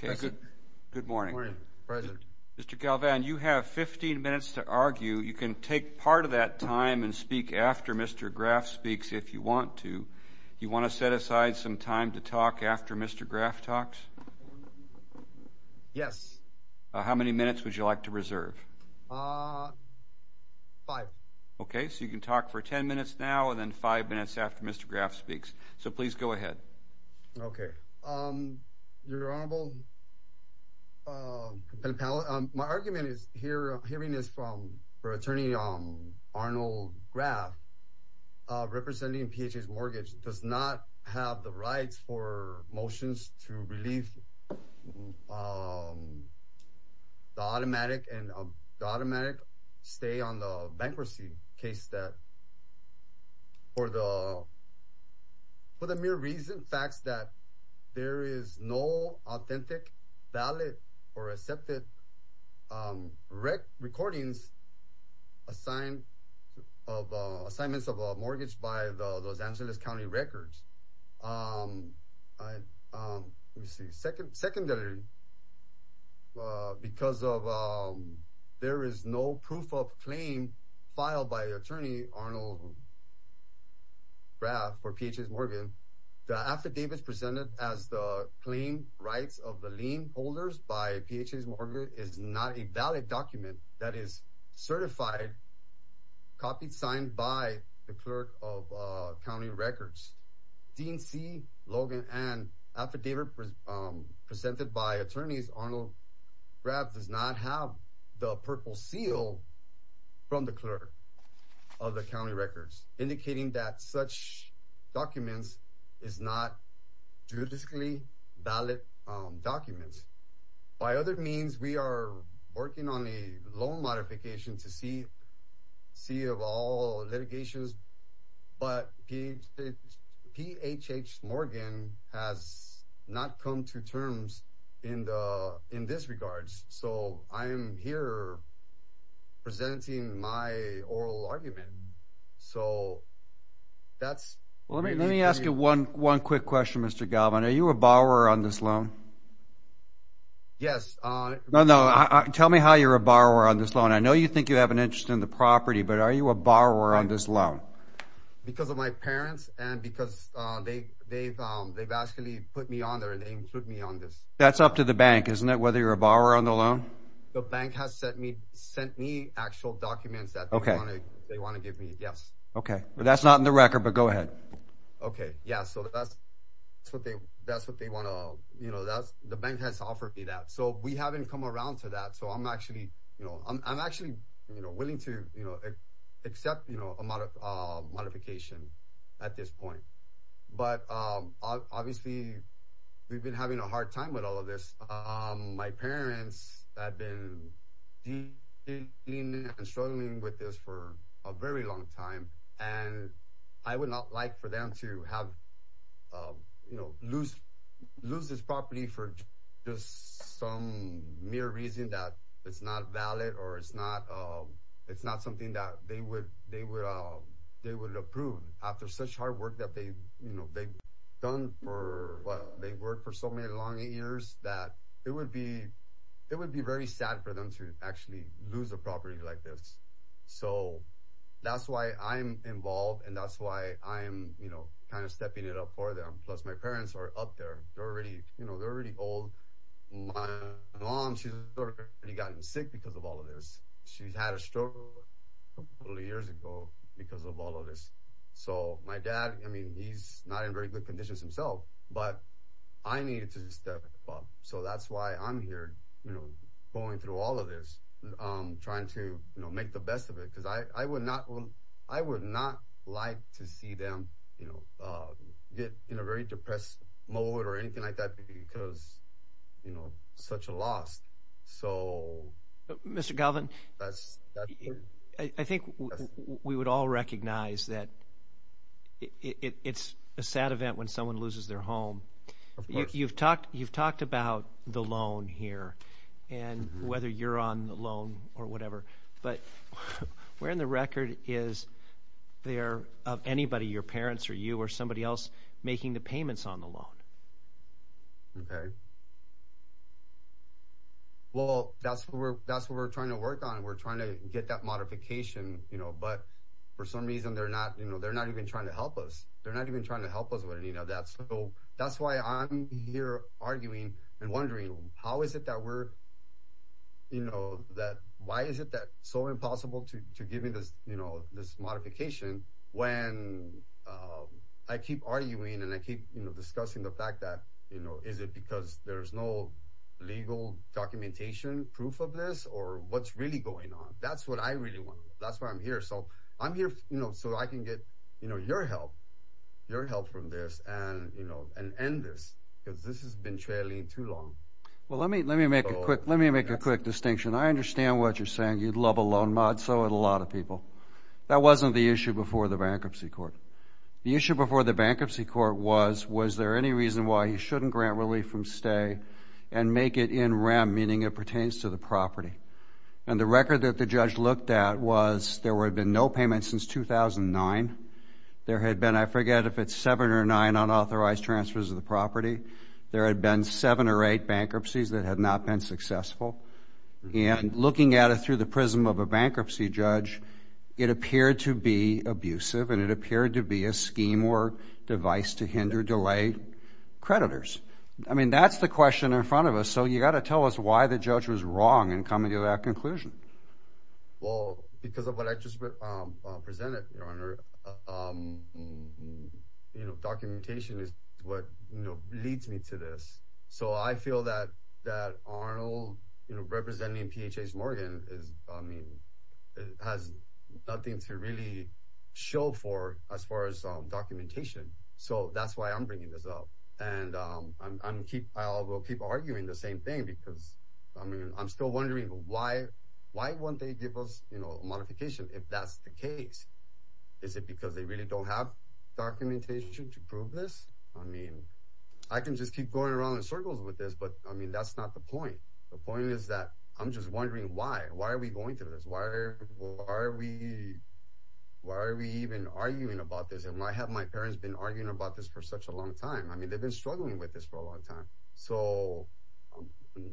Good morning. Mr. Galvan, you have 15 minutes to argue. You can take part of that time and speak after Mr. Graff speaks if you want to. You want to set aside some time to talk after Mr. Graff talks? Yes. How many minutes would you like to reserve? Five. Okay, so you can talk for 10 minutes now and then five minutes after Mr. Graff speaks. So please go ahead. Okay. Your Honorable, my argument is, hearing this from Attorney Arnold Graff, representing PHA's mortgage does not have the rights for motions to relieve the automatic stay on the bankruptcy case. For the mere recent facts that there is no authentic, valid, or accepted recordings of assignments of a mortgage by the Los Angeles County records. Secondarily, because there is no proof of claim filed by Attorney Arnold Graff for PHA's mortgage, the affidavits presented as the claim rights of the lien holders by PHA's mortgage is not a valid document that is certified, copied, signed by the clerk of county records. Dean C, Logan, and affidavit presented by attorneys Arnold Graff does not have the purple seal from the clerk of the county records, indicating that such documents is not juridically valid documents. By other means, we are working on a loan modification to see of all litigations, but PHA's mortgage has not come to terms in this regard. So I am here presenting my oral argument. Let me ask you one quick question, Mr. Galvan. Are you a borrower on this loan? No, no. Tell me how you're a borrower on this loan. I know you think you have an interest in the property, but are you a borrower on this loan? Because of my parents and because they've actually put me on there and they include me on this. That's up to the bank, isn't it, whether you're a borrower on the loan? The bank has sent me actual documents that they want to give me, yes. Okay, but that's not in the record, but go ahead. Okay, yeah, so that's what they want to, you know, that's the bank has offered me that. So we haven't come around to that. So I'm actually, you know, I'm actually willing to, you know, accept, you know, a modification at this point. But obviously, we've been having a hard time with all of this. My parents have been struggling with this for a very long time. And I would not like for them to have, you know, lose, lose this property for just some mere reason that it's not valid or it's not. It's not something that they would, they would, they would approve after such hard work that they, you know, they've done for what they've worked for so many long years that it would be, it would be very sad for them to actually lose a property like this. So that's why I'm involved. And that's why I'm, you know, kind of stepping it up for them. Plus, my parents are up there already, you know, they're already old. My mom, she's already gotten sick because of all of this. She's had a stroke a couple years ago, because of all of this. So my dad, I mean, he's not in very good conditions himself, but I needed to step up. So that's why I'm here, you know, going through all of this, trying to, you know, make the best of it, because I would not, I would not like to see them, you know, get in a very depressed mode or anything like that, because, you know, such a loss. So... You've talked about the loan here, and whether you're on the loan or whatever, but where in the record is there of anybody, your parents or you or somebody else, making the payments on the loan? Okay. Well, that's what we're, that's what we're trying to work on. We're trying to get that modification, you know, but for some reason, they're not, you know, they're not even trying to help us. They're not even trying to help us with any of that. So that's why I'm here arguing and wondering, how is it that we're, you know, that, why is it that so impossible to give me this, you know, this modification, when I keep arguing and I keep, you know, discussing the payment. And the fact that, you know, is it because there's no legal documentation, proof of this, or what's really going on? That's what I really want. That's why I'm here. So I'm here, you know, so I can get, you know, your help, your help from this and, you know, and end this, because this has been trailing too long. Well, let me, let me make a quick, let me make a quick distinction. I understand what you're saying. You'd love a loan mod, so would a lot of people. That wasn't the issue before the bankruptcy court. The issue before the bankruptcy court was, was there any reason why he shouldn't grant relief from stay and make it in rem, meaning it pertains to the property? And the record that the judge looked at was there had been no payment since 2009. There had been, I forget if it's seven or nine unauthorized transfers of the property. There had been seven or eight bankruptcies that had not been successful. And looking at it through the prism of a bankruptcy judge, it appeared to be abusive, and it appeared to be a scheme or device to hinder, delay creditors. I mean, that's the question in front of us. So you got to tell us why the judge was wrong in coming to that conclusion. Well, because of what I just presented, your honor, you know, documentation is what, you know, leads me to this. So I feel that, that Arnold, you know, representing PHS Morgan is, I mean, has nothing to really show for as far as documentation. So that's why I'm bringing this up. And I'm keep, I will keep arguing the same thing because, I mean, I'm still wondering why, why won't they give us, you know, modification if that's the case? Is it because they really don't have documentation to prove this? I mean, I can just keep going around in circles with this, but I mean, that's not the point. The point is that I'm just wondering why, why are we going through this? Why are we, why are we even arguing about this? And why have my parents been arguing about this for such a long time? I mean, they've been struggling with this for a long time. So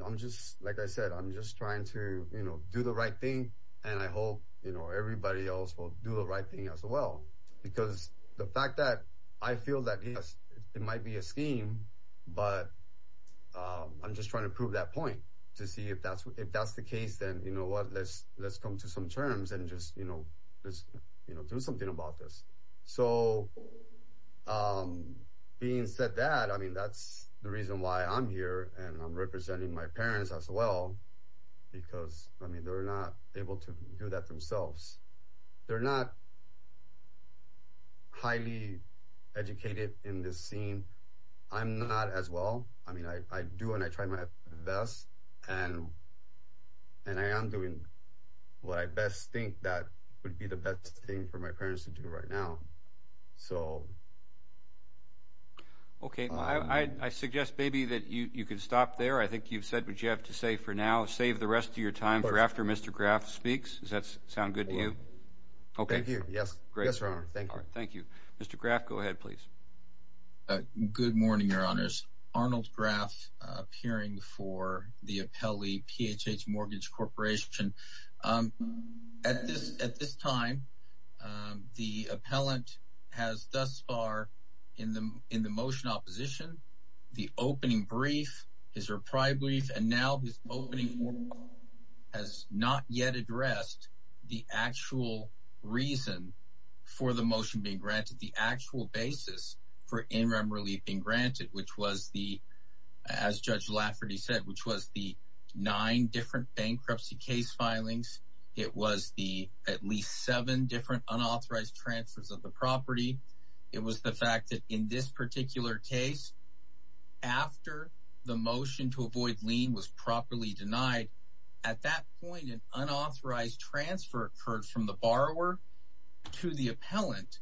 I'm just, like I said, I'm just trying to, you know, do the right thing. And I hope, you know, everybody else will do the right thing as well. Because the fact that I feel that it might be a scheme, but I'm just trying to prove that point to see if that's, if that's the case, then you know what, let's, let's come to some terms and just, you know, let's, you know, do something about this. So being said that, I mean, that's the reason why I'm here. And I'm representing my parents as well. Because I mean, they're not able to do that themselves. They're not highly educated in this scene. I'm not as well. I mean, I do and I try my best. And, and I am doing what I best think that would be the best thing for my parents to do right now. So. So the government has thus far in the in the motion opposition, the opening brief, his reply brief, and now his opening has not yet addressed the actual reason for the motion being granted the actual basis for in rem relief being granted, which was the as Judge Lafferty said, which was the nine different bankruptcy case filings. It was the at least seven different unauthorized transfers of the property. It was the fact that in this particular case, after the motion to avoid lien was properly denied. At that point, an unauthorized transfer occurred from the borrower to the appellant,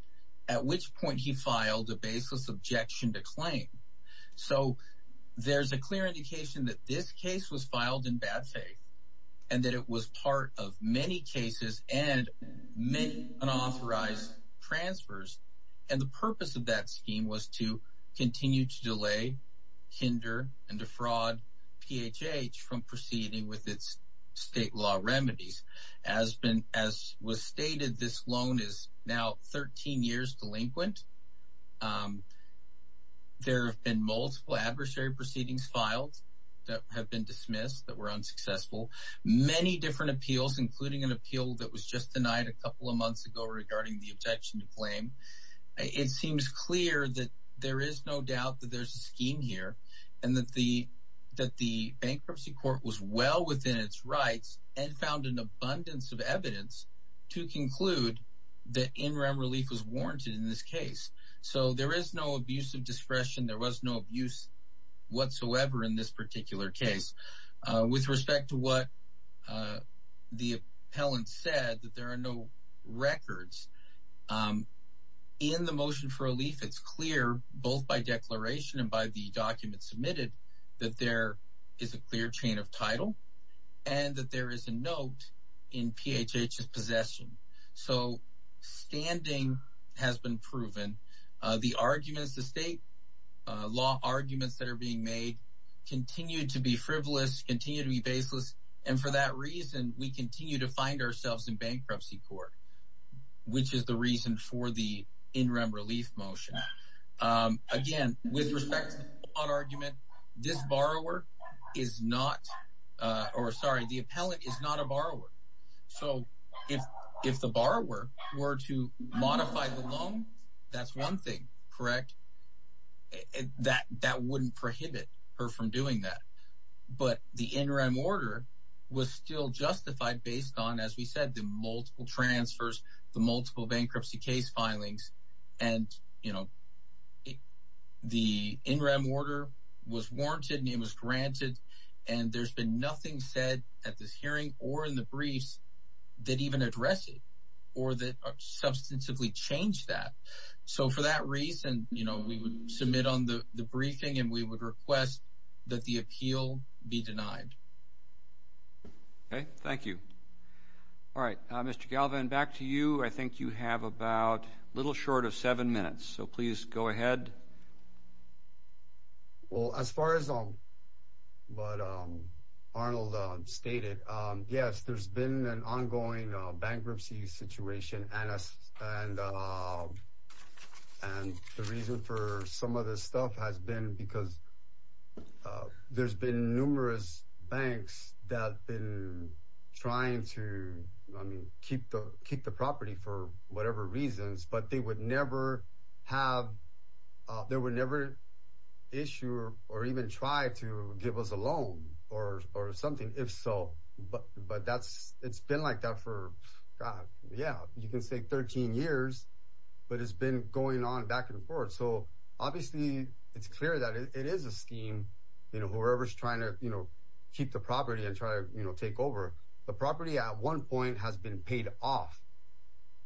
at which point he filed a baseless objection to claim. So there's a clear indication that this case was filed in bad faith and that it was part of many cases and many unauthorized transfers. And the purpose of that scheme was to continue to delay, hinder and defraud PHH from proceeding with its state law remedies. As been as was stated, this loan is now 13 years delinquent. There have been multiple adversary proceedings filed that have been dismissed that were unsuccessful. Many different appeals, including an appeal that was just denied a couple of months ago regarding the objection to claim. It seems clear that there is no doubt that there's a scheme here and that the that the bankruptcy court was well within its rights and found an abundance of evidence to conclude that in rem relief was warranted in this case. So there is no abuse of discretion. There was no abuse whatsoever in this particular case with respect to what the appellant said that there are no records in the motion for relief. It's clear both by declaration and by the document submitted that there is a clear chain of title and that there is a note in PHH's possession. So standing has been proven. The arguments, the state law arguments that are being made continue to be frivolous, continue to be baseless. And for that reason, we continue to find ourselves in bankruptcy court, which is the reason for the in rem relief motion. Again, with respect to argument, this borrower is not or sorry, the appellant is not a borrower. So if if the borrower were to modify the loan, that's one thing. And that that wouldn't prohibit her from doing that. But the interim order was still justified based on, as we said, the multiple transfers, the multiple bankruptcy case filings. And, you know, the interim order was warranted and it was granted. And there's been nothing said at this hearing or in the briefs that even address it or that substantively change that. So for that reason, you know, we would submit on the briefing and we would request that the appeal be denied. OK, thank you. All right, Mr. Galvin, back to you. I think you have about a little short of seven minutes, so please go ahead. Well, as far as. But Arnold stated, yes, there's been an ongoing bankruptcy situation and and the reason for some of this stuff has been because there's been numerous banks that been trying to keep the keep the property for whatever reasons. But they would never have there were never issue or even try to give us a loan or or something. If so, but but that's it's been like that for. Yeah, you can say 13 years, but it's been going on back and forth. So obviously it's clear that it is a scheme, you know, whoever's trying to, you know, keep the property and try to take over the property at one point has been paid off.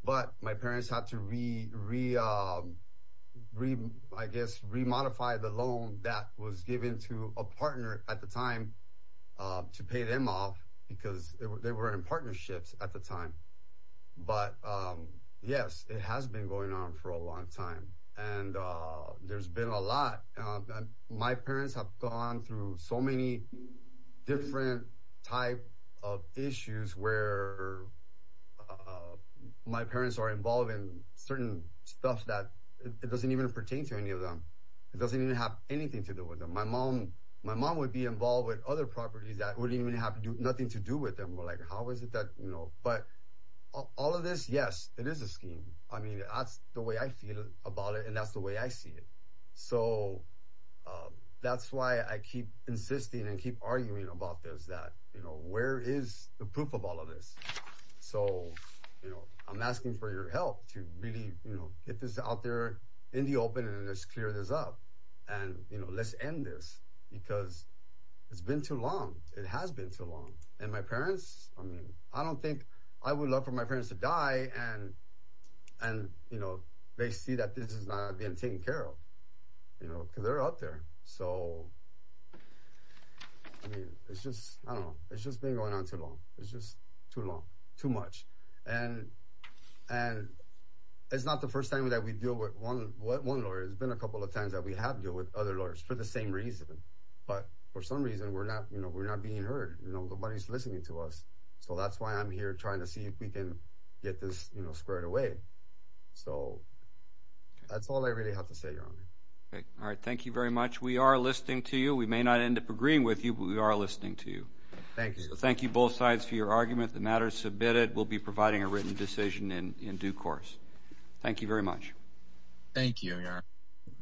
But my parents have to read, read, read, I guess, remodify the loan that was given to a partner at the time to pay them off because they were in partnerships at the time. But, yes, it has been going on for a long time and there's been a lot. My parents have gone through so many different type of issues where my parents are involved in certain stuff that doesn't even pertain to any of them. It doesn't even have anything to do with my mom. My mom would be involved with other properties that wouldn't even have nothing to do with them. Like, how is it that, you know, but all of this? Yes, it is a scheme. I mean, that's the way I feel about it and that's the way I see it. So that's why I keep insisting and keep arguing about this, that, you know, where is the proof of all of this? So, you know, I'm asking for your help to really, you know, get this out there in the open and let's clear this up. And, you know, let's end this because it's been too long. It has been too long. And my parents, I mean, I don't think I would love for my parents to die. And and, you know, they see that this is not being taken care of, you know, because they're out there. So, I mean, it's just, I don't know, it's just been going on too long. It's just too long, too much. And and it's not the first time that we deal with one lawyer. It's been a couple of times that we have deal with other lawyers for the same reason. But for some reason, we're not, you know, we're not being heard. Nobody's listening to us. So that's why I'm here trying to see if we can get this squared away. So that's all I really have to say. All right. Thank you very much. We are listening to you. We may not end up agreeing with you, but we are listening to you. Thank you both sides for your argument. The matter is submitted. We'll be providing a written decision in due course. Thank you very much. Thank you.